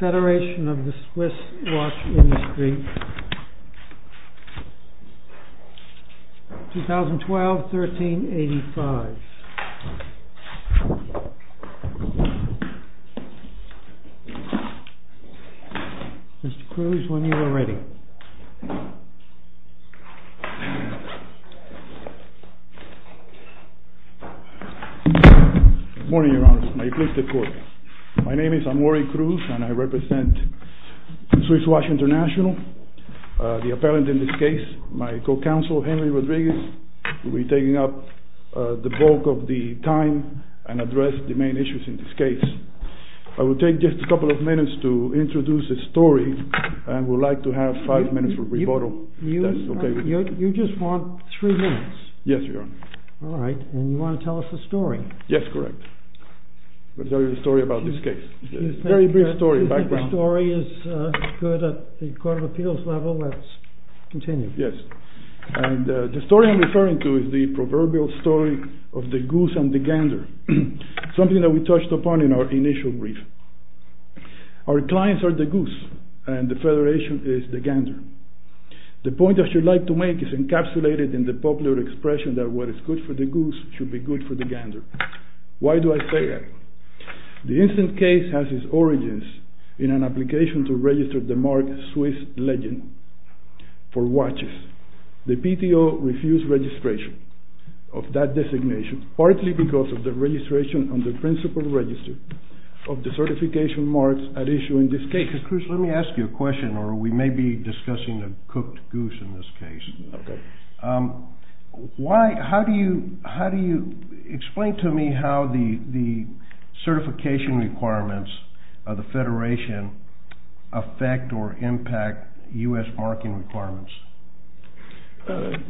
FEDERATION OF THE SWISS WATCH INDUSTRY 2012-13-85 Mr. Cruz, when you are ready. Good morning, Your Honor. May you please take the floor. My name is Amory Cruz and I represent Swiss Watch International. The appellant in this case, my co-counsel Henry Rodriguez, will be taking up the bulk of the time and address the main issues in this case. I will take just a couple of minutes to introduce the story and would like to have five minutes for rebuttal. You just want three minutes? Yes, Your Honor. All right. And you want to tell us the story? Yes, correct. I'll tell you the story about this case. The story is good at the Court of Appeals level. Let's continue. Yes. The story I'm referring to is the proverbial story of the goose and the gander. Something that we touched upon in our initial brief. Our clients are the goose and the Federation is the gander. The point that I would like to make is encapsulated in the popular expression that what is good for the goose should be good for the gander. Why do I say that? The incident case has its origins in an application to register the marked Swiss legend for watches. The PTO refused registration of that designation partly because of the registration on the principal register of the certification marks at issue in this case. Cruz, let me ask you a question or we may be discussing a cooked goose in this case. Okay. Explain to me how the certification requirements of the Federation affect or impact U.S. marking requirements.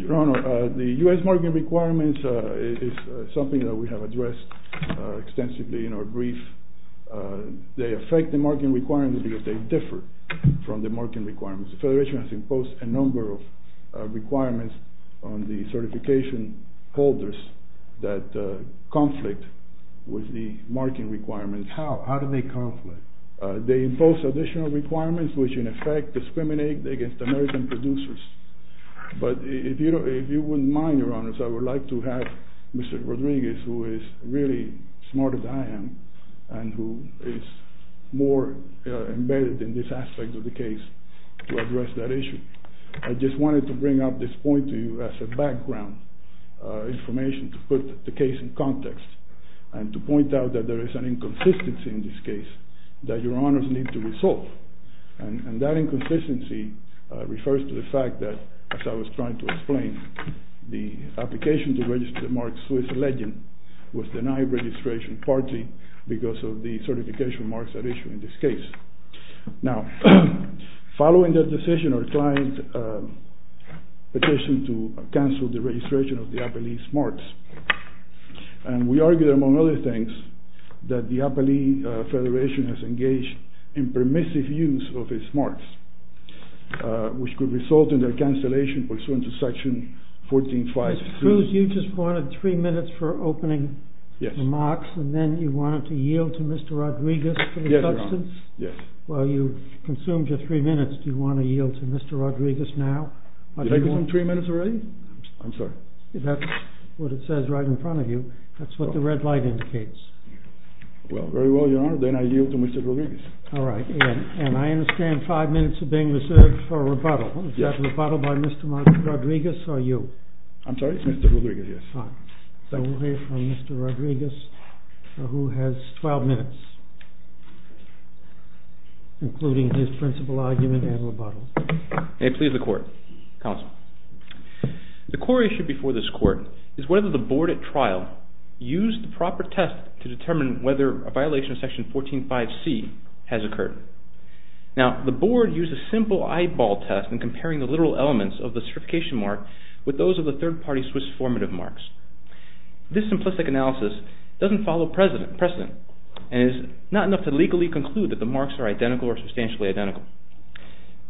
Your Honor, the U.S. marking requirements is something that we have addressed extensively in our brief. They affect the marking requirements because they differ from the marking requirements. The Federation has imposed a number of requirements on the certification holders that conflict with the marking requirements. How? How do they conflict? They impose additional requirements which in effect discriminate against American producers. But if you wouldn't mind, Your Honors, I would like to have Mr. Rodriguez who is really smart as I am and who is more embedded in this aspect of the case to address that issue. I just wanted to bring up this point to you as a background information to put the case in context and to point out that there is an inconsistency in this case that Your Honors need to resolve. And that inconsistency refers to the fact that, as I was trying to explain, the application to register the mark Swiss Legend was denied registration partly because of the certification marks at issue in this case. Now, following that decision, our client petitioned to cancel the registration of the APALEE marks. And we argued among other things that the APALEE Federation has engaged in permissive use of its marks which could result in their cancellation pursuant to section 14.5. Cruz, you just wanted three minutes for opening remarks and then you wanted to yield to Mr. Rodriguez for the substance? Yes, Your Honor. Well, you've consumed your three minutes. Do you want to yield to Mr. Rodriguez now? Did I give him three minutes already? I'm sorry. That's what it says right in front of you. That's what the red light indicates. Well, very well, Your Honor. Then I yield to Mr. Rodriguez. All right. And I understand five minutes are being reserved for rebuttal. Yes. Is that rebuttal by Mr. Martin Rodriguez or you? I'm sorry? Mr. Rodriguez, yes. All right. So we'll hear from Mr. Rodriguez who has 12 minutes including his principal argument and rebuttal. May it please the Court. Counsel. The core issue before this Court is whether the Board at trial used the proper test to determine whether a violation of section 14.5c has occurred. Now, the Board used a simple eyeball test in comparing the literal elements of the certification mark with those of the third-party Swiss formative marks. This simplistic analysis doesn't follow precedent and is not enough to legally conclude that the marks are identical or substantially identical.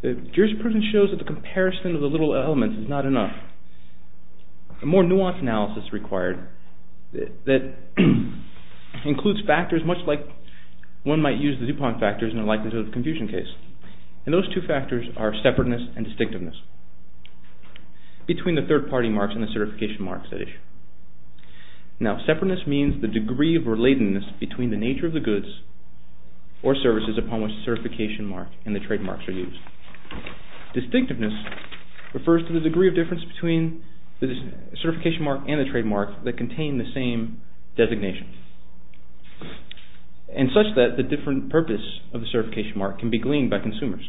Jurisprudence shows that the comparison of the literal elements is not enough. A more nuanced analysis is required that includes factors much like one might use the DuPont factors in the likelihood of confusion case. And those two factors are separateness and distinctiveness between the third-party marks and the certification marks at issue. Now, separateness means the degree of relatedness between the nature of the goods or services upon which the certification mark and the trademarks are used. Distinctiveness refers to the degree of difference between the certification mark and the trademark that contain the same designation. And such that the different purpose of the certification mark can be gleaned by consumers.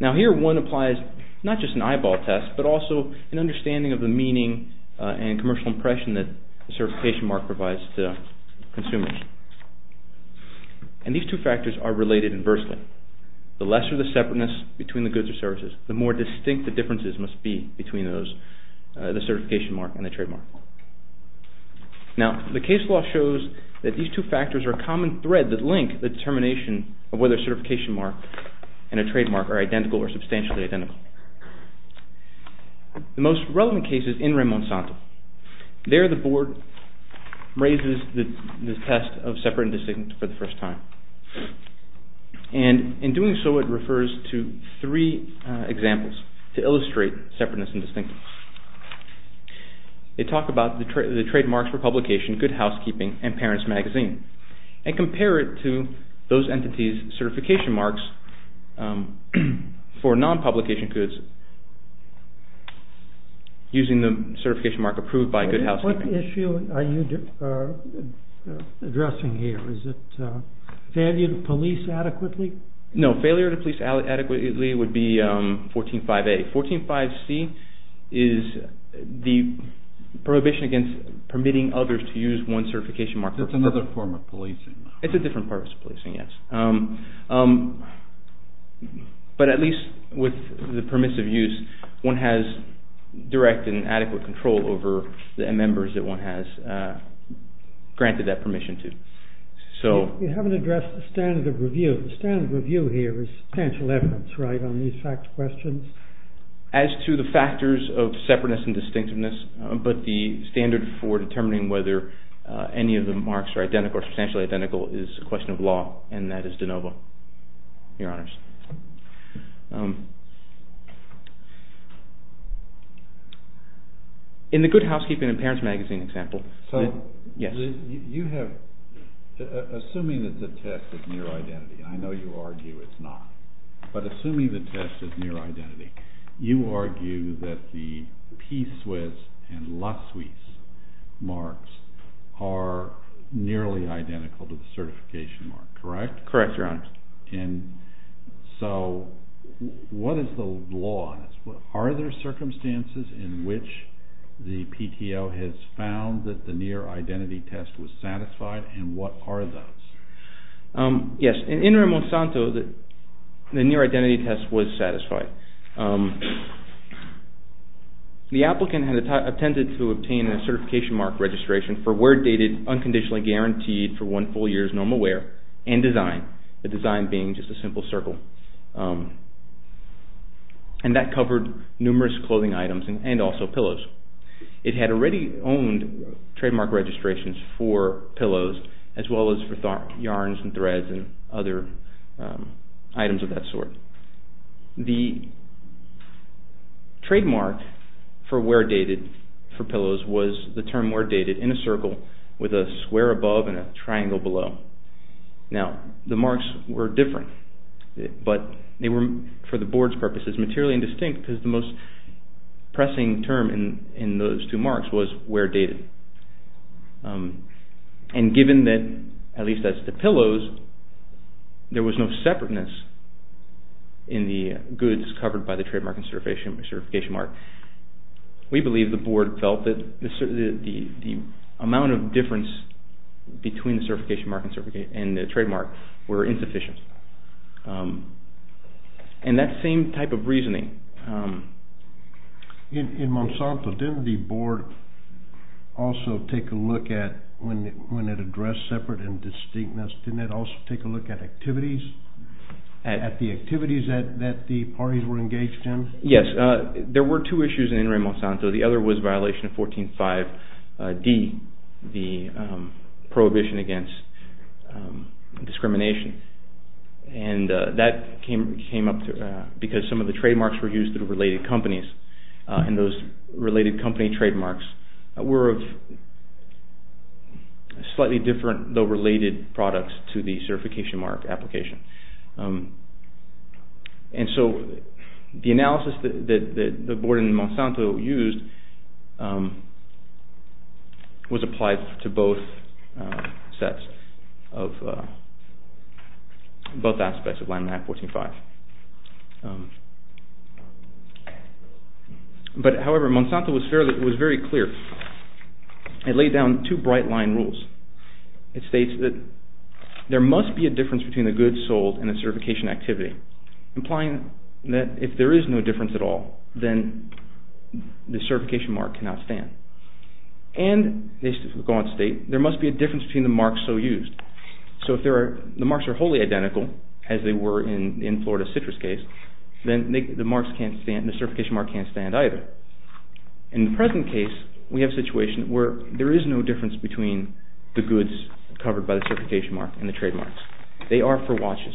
Now, here one applies not just an eyeball test but also an understanding of the meaning and commercial impression that the certification mark provides to consumers. And these two factors are related inversely. The lesser the separateness between the goods or services, the more distinct the differences must be between the certification mark and the trademark. Now, the case law shows that these two factors are a common thread that link the determination of whether a certification mark and a trademark are identical or substantially identical. The most relevant case is in Ramon Santo. There the board raises the test of separate and distinct for the first time. And in doing so it refers to three examples to illustrate separateness and distinctness. They talk about the trademarks for publication, good housekeeping and parents magazine. And compare it to those entities certification marks for non-publication goods using the certification mark approved by good housekeeping. What issue are you addressing here? Is it failure to police adequately? No, failure to police adequately would be 14.5A. 14.5C is the prohibition against permitting others to use one certification mark. It's another form of policing. It's a different form of policing, yes. But at least with the permissive use one has direct and adequate control over the members that one has granted that permission to. You haven't addressed the standard of review. The standard of review here is substantial evidence, right, on these fact questions? As to the factors of separateness and distinctiveness, but the standard for determining whether any of the marks are identical or substantially identical is a question of law and that is de novo, your honors. In the good housekeeping and parents magazine example. So you have, assuming that the test is near identity, I know you argue it's not. But assuming the test is near identity, you argue that the P-SWIS and LA-SWIS marks are nearly identical to the certification mark, correct? Correct, your honors. And so what is the law on this? Are there circumstances in which the PTO has found that the near identity test was satisfied and what are those? Yes, in Ramon Santo the near identity test was satisfied. The applicant had attended to obtain a certification mark registration for wear dated unconditionally guaranteed for one full year's normal wear and design. The design being just a simple circle. And that covered numerous clothing items and also pillows. It had already owned trademark registrations for pillows as well as for yarns and threads and other items of that sort. The trademark for wear dated for pillows was the term wear dated in a circle with a square above and a triangle below. Now the marks were different but they were, for the board's purposes, materially indistinct because the most pressing term in those two marks was wear dated. And given that, at least as to pillows, there was no separateness in the goods covered by the trademark and certification mark. We believe the board felt that the amount of difference between the certification mark and the trademark were insufficient. And that same type of reasoning. In Ramon Santo, didn't the board also take a look at, when it addressed separate and distinctness, didn't it also take a look at activities? At the activities that the parties were engaged in? Yes, there were two issues in Ramon Santo. The other was violation of 14.5D, the prohibition against discrimination. And that came up because some of the trademarks were used through related companies. And those related company trademarks were of slightly different, though related, products to the certification mark application. And so the analysis that the board in Ramon Santo used was applied to both sets of, both aspects of Line 14.5. But however, Ramon Santo was very clear. It laid down two bright line rules. It states that there must be a difference between the goods sold and the certification activity. Implying that if there is no difference at all, then the certification mark cannot stand. And, they go on to state, there must be a difference between the marks so used. So if the marks are wholly identical, as they were in the Florida Citrus case, then the certification mark can't stand either. In the present case, we have a situation where there is no difference between the goods covered by the certification mark and the trademarks. They are for watches.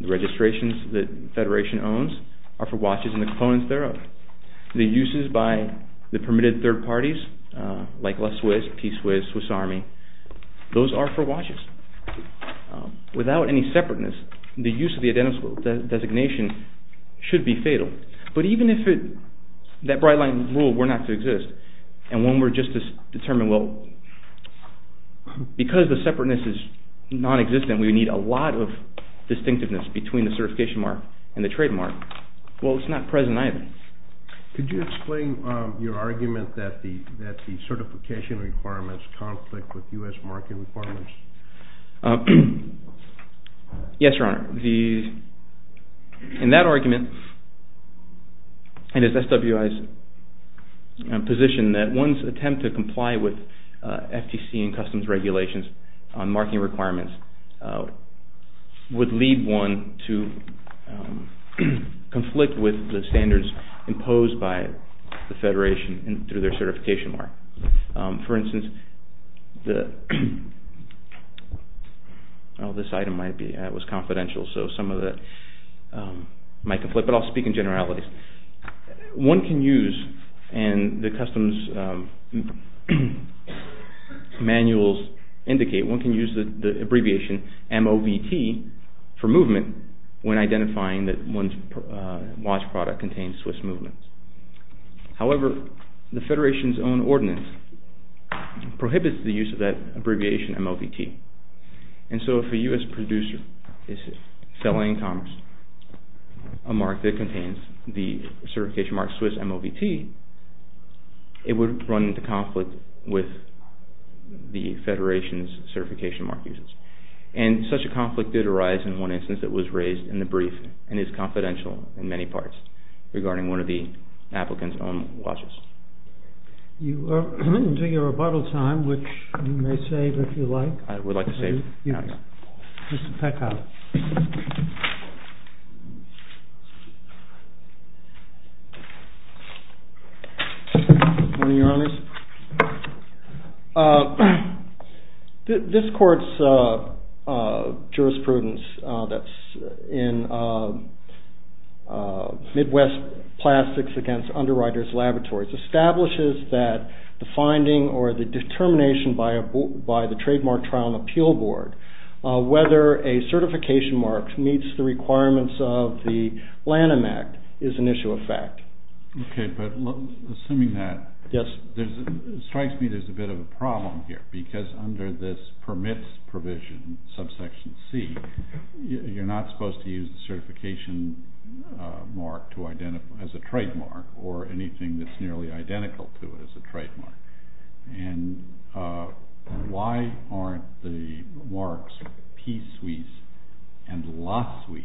The registrations that the Federation owns are for watches and the components thereof. The uses by the permitted third parties, like La Suisse, Peace Suisse, Swiss Army, those are for watches. Without any separateness, the use of the identical designation should be fatal. But even if that bright line rule were not to exist, and one were just to determine, well, because the separateness is non-existent, we would need a lot of distinctiveness between the certification mark and the trademark. Well, it's not present either. Could you explain your argument that the certification requirements conflict with U.S. market requirements? Yes, Your Honor. In that argument, it is SWI's position that one's attempt to comply with FTC and customs regulations on marking requirements would lead one to conflict with the standards imposed by the Federation through their certification mark. For instance, this item was confidential, so some of it might conflict, but I'll speak in generalities. One can use, and the customs manuals indicate, one can use the abbreviation MOVT for movement when identifying that one's watch product contains Swiss movements. However, the Federation's own ordinance prohibits the use of that abbreviation MOVT. And so if a U.S. producer is selling commerce a mark that contains the certification mark Swiss MOVT, it would run into conflict with the Federation's certification mark users. And such a conflict did arise in one instance that was raised in the brief and is confidential in many parts regarding one of the applicant's own watches. You are coming to your rebuttal time, which you may save if you like. I would like to save. Mr. Peckhoff. Good morning, Your Honors. This Court's jurisprudence that's in Midwest Plastics Against Underwriters Laboratories establishes that the finding or the determination by the Trademark Trial and Appeal Board whether a certification mark meets the requirements of the Lanham Act is an issue of fact. Okay, but assuming that, it strikes me there's a bit of a problem here because under this permits provision, subsection C, you're not supposed to use the certification mark as a trademark or anything that's nearly identical to it as a trademark. And why aren't the marks P-SWIS and LA-SWIS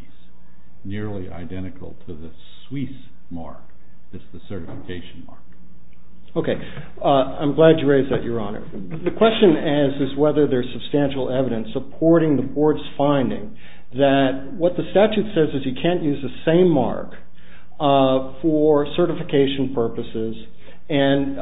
nearly identical to the SWIS mark that's the certification mark? Okay, I'm glad you raised that, Your Honor. The question is whether there's substantial evidence supporting the Board's finding that what the statute says is you can't use the same mark for certification purposes and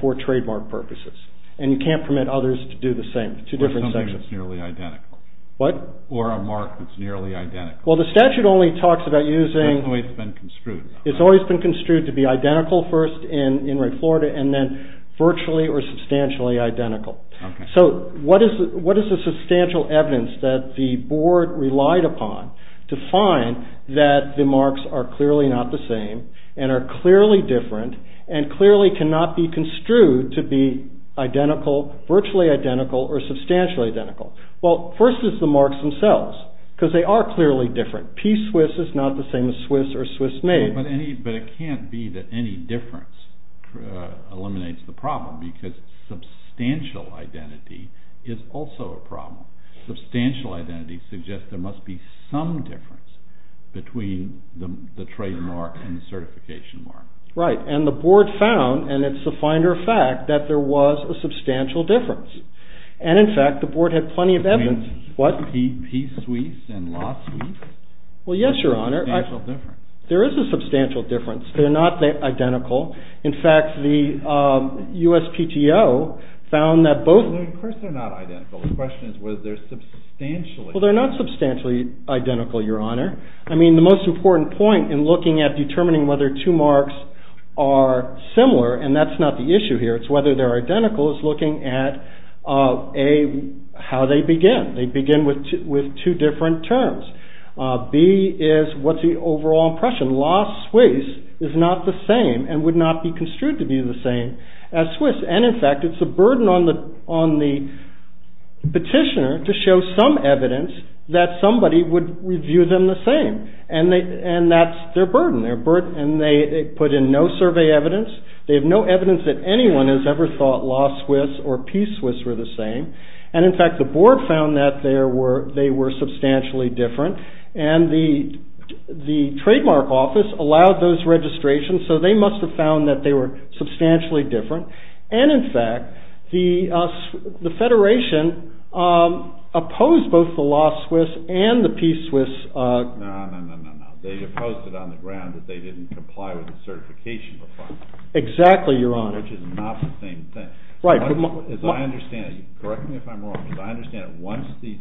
for trademark purposes. And you can't permit others to do the same, two different sections. Or something that's nearly identical. What? Or a mark that's nearly identical. Well, the statute only talks about using... It's always been construed. It's always been construed to be identical first in Ray, Florida and then virtually or substantially identical. Okay. So what is the substantial evidence that the Board relied upon to find that the marks are clearly not the same and are clearly different and clearly cannot be construed to be identical, virtually identical or substantially identical? Well, first is the marks themselves because they are clearly different. P-SWIS is not the same as SWIS or SWIS-MADE. But it can't be that any difference eliminates the problem because substantial identity is also a problem. Substantial identity suggests there must be some difference between the trademark and the certification mark. Right. And the Board found, and it's a finder of fact, that there was a substantial difference. And, in fact, the Board had plenty of evidence... Between P-SWIS and LAW-SWIS? Well, yes, Your Honor. There's a substantial difference. There is a substantial difference. They're not identical. In fact, the USPTO found that both... Of course they're not identical. The question is whether they're substantially... Well, they're not substantially identical, Your Honor. I mean, the most important point in looking at determining whether two marks are similar, and that's not the issue here. It's whether they're identical. It's looking at, A, how they begin. They begin with two different terms. B is what's the overall impression. LAW-SWIS is not the same and would not be construed to be the same as SWIS. And, in fact, it's a burden on the petitioner to show some evidence that somebody would review them the same. And that's their burden. And they put in no survey evidence. They have no evidence that anyone has ever thought LAW-SWIS or P-SWIS were the same. And, in fact, the Board found that they were substantially different. And the Trademark Office allowed those registrations, so they must have found that they were substantially different. And, in fact, the Federation opposed both the LAW-SWIS and the P-SWIS. No, no, no, no, no. They opposed it on the ground that they didn't comply with the certification requirements. Exactly, Your Honor. Which is not the same thing. Right. As I understand it, correct me if I'm wrong, but I understand that once these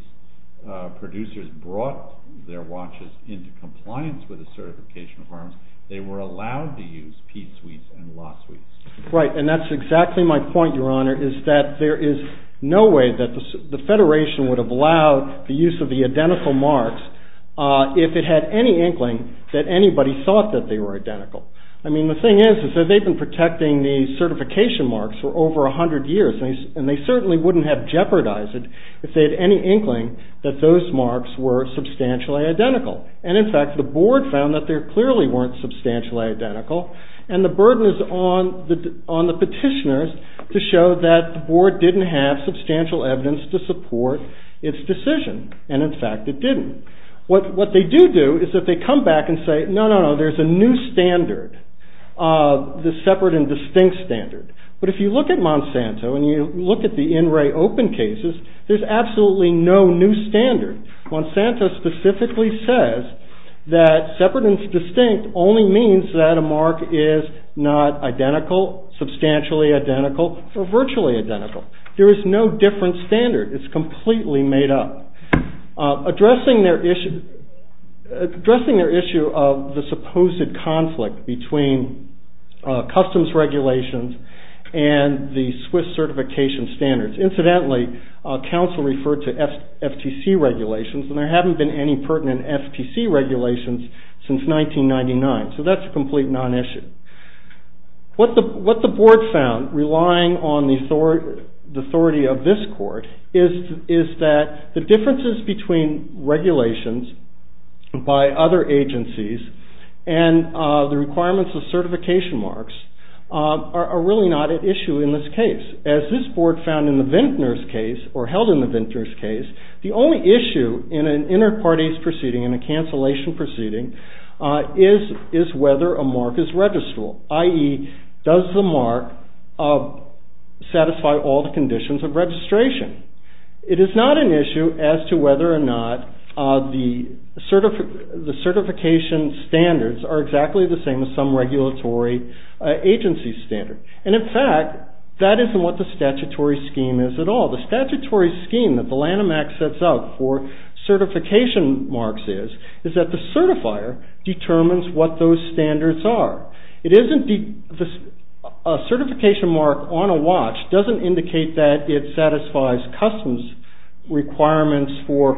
producers brought their watches into compliance with the certification requirements, they were allowed to use P-SWIS and LAW-SWIS. Right. And that's exactly my point, Your Honor, is that there is no way that the Federation would have allowed the use of the identical marks if it had any inkling that anybody thought that they were identical. I mean, the thing is that they've been protecting the certification marks for over 100 years, and they certainly wouldn't have jeopardized it if they had any inkling that those marks were substantially identical. And, in fact, the Board found that they clearly weren't substantially identical, and the burden is on the petitioners to show that the Board didn't have substantial evidence to support its decision. And, in fact, it didn't. What they do do is that they come back and say, no, no, no, there's a new standard, the separate and distinct standard. But if you look at Monsanto and you look at the in-ray open cases, there's absolutely no new standard. Monsanto specifically says that separate and distinct only means that a mark is not identical, substantially identical, or virtually identical. There is no different standard. It's completely made up. Addressing their issue of the supposed conflict between customs regulations and the SWIS certification standards, incidentally, counsel referred to FTC regulations, and there haven't been any pertinent FTC regulations since 1999. So that's a complete non-issue. What the Board found, relying on the authority of this Court, is that the differences between regulations by other agencies and the requirements of certification marks are really not at issue in this case. As this Board found in the Vintner's case, or held in the Vintner's case, the only issue in an inter-parties proceeding, in a cancellation proceeding, is whether a mark is registrable, i.e., does the mark satisfy all the conditions of registration. It is not an issue as to whether or not the certification standards are exactly the same as some regulatory agency's standards. In fact, that isn't what the statutory scheme is at all. The statutory scheme that the Lanham Act sets out for certification marks is that the certifier determines what those standards are. A certification mark on a watch doesn't indicate that it satisfies customs requirements for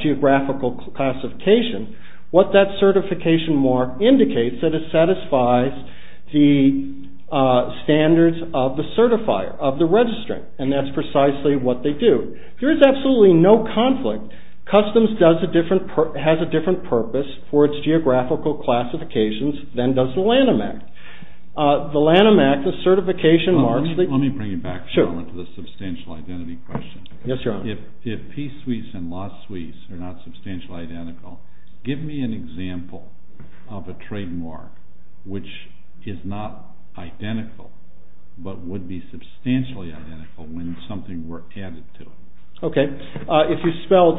geographical classification. What that certification mark indicates is that it satisfies the standards of the certifier, of the registrant, and that's precisely what they do. There is absolutely no conflict. Customs has a different purpose for its geographical classifications than does the Lanham Act. The Lanham Act, the certification marks... Let me bring you back for a moment to the substantial identity question. Yes, Your Honor. If P. Suisse and La Suisse are not substantially identical, give me an example of a trademark which is not identical but would be substantially identical when something were added to it. Okay. If you spelled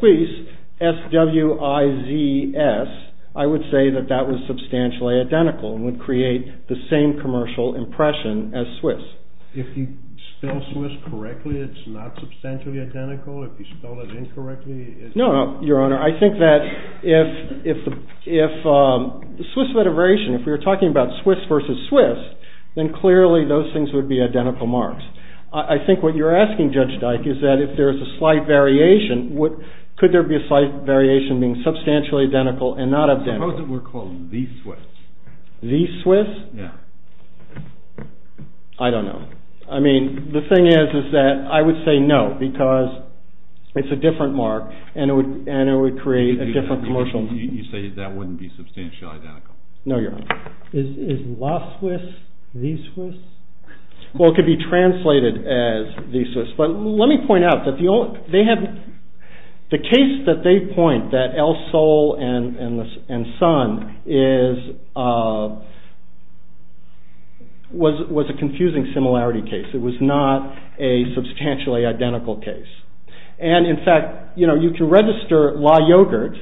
Suisse, S-W-I-Z-S, I would say that that was substantially identical and would create the same commercial impression as Swiss. If you spell Suisse correctly, it's not substantially identical. If you spell it incorrectly, it's... No, Your Honor. I think that if Suisse had a variation, if we were talking about Suisse versus Suisse, then clearly those things would be identical marks. I think what you're asking, Judge Dike, is that if there is a slight variation, could there be a slight variation being substantially identical and not identical? Suppose it were called the Suisse. The Suisse? Yeah. I don't know. I mean, the thing is that I would say no because it's a different mark and it would create a different commercial... You say that wouldn't be substantially identical. No, Your Honor. Is La Suisse the Suisse? Well, it could be translated as the Suisse, but let me point out that the only... was a confusing similarity case. It was not a substantially identical case. And, in fact, you can register La Yogurt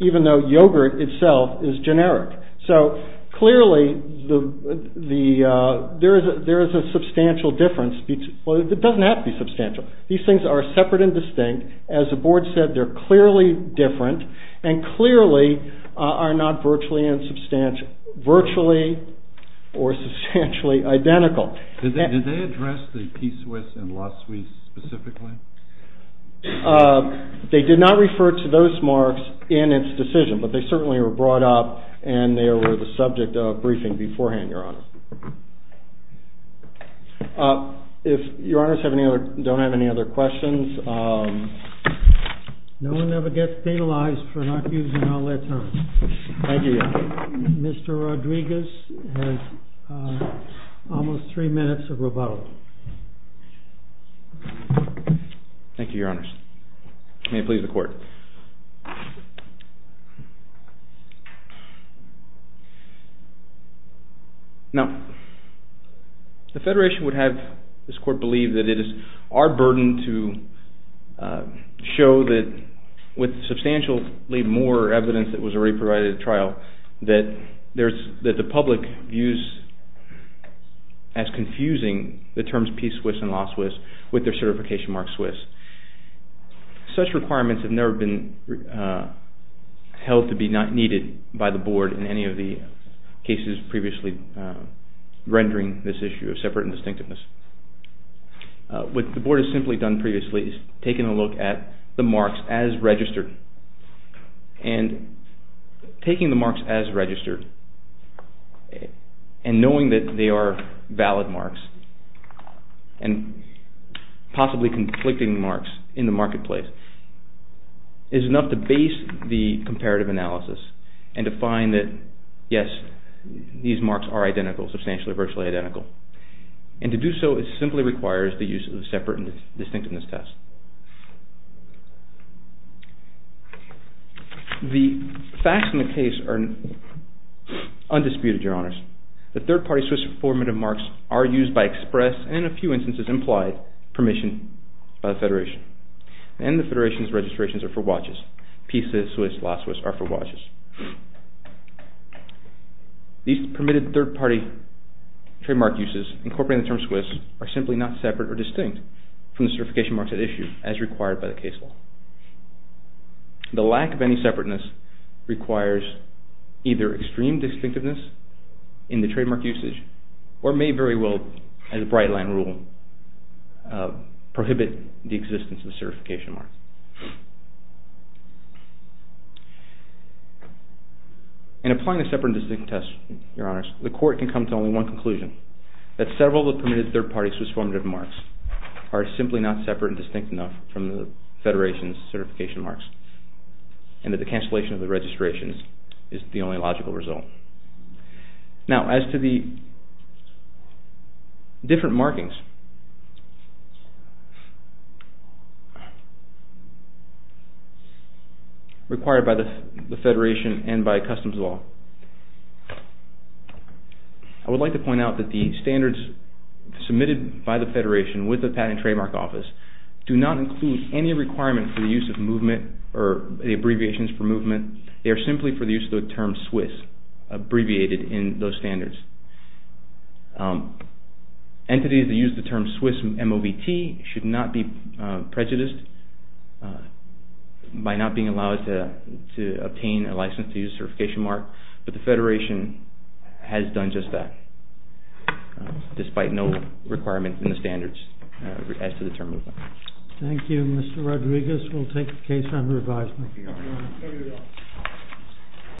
even though yogurt itself is generic. So, clearly, there is a substantial difference between... Well, it doesn't have to be substantial. These things are separate and distinct. As the board said, they're clearly different and clearly are not virtually or substantially identical. Did they address the P. Suisse and La Suisse specifically? They did not refer to those marks in its decision, but they certainly were brought up and they were the subject of briefing beforehand, Your Honor. If Your Honors don't have any other questions... No one ever gets penalized for not using all their time. Thank you, Your Honor. Mr. Rodriguez has almost three minutes of rebuttal. Thank you, Your Honors. May it please the Court. Now, the Federation would have this Court believe that it is our burden to show that, with substantially more evidence that was already provided at trial, that the public views as confusing the terms P. Suisse and La Suisse with their certification mark Suisse. Such requirements have never been held to be needed by the board in any of the cases previously rendering this issue of separate and distinctiveness. What the board has simply done previously is taken a look at the marks as registered and taking the marks as registered and knowing that they are valid marks and possibly conflicting marks in the marketplace is enough to base the comparative analysis and to find that, yes, these marks are identical, substantially virtually identical. And to do so simply requires the use of separate and distinctiveness tests. The facts in the case are undisputed, Your Honors. The third party Suisse formative marks are used by express and in a few instances implied permission by the Federation. And the Federation's registrations are for watches. P. Suisse, La Suisse are for watches. These permitted third party trademark uses incorporating the term Suisse are simply not separate or distinct from the certification marks at issue as required by the case law. The lack of any separateness requires either extreme distinctiveness in the trademark usage or may very well, as the Bright Line rule, prohibit the existence of certification marks. In applying the separate and distinctiveness test, Your Honors, the court can come to only one conclusion, that several of the permitted third party Suisse formative marks are simply not separate and distinct enough from the Federation's certification marks and that the cancellation of the registrations is the only logical result. Now, as to the different markings required by the Federation and by customs law, I would like to point out that the standards submitted by the Federation with the Patent and Trademark Office do not include any requirement for the use of movement or the abbreviations for movement. They are simply for the use of the term Suisse, abbreviated in those standards. Entities that use the term Suisse MOVT should not be prejudiced by not being allowed to obtain a license to use a certification mark, but the Federation has done just that, despite no requirement in the standards as to the term movement. Thank you, Mr. Rodriguez. We'll take the case under advisement.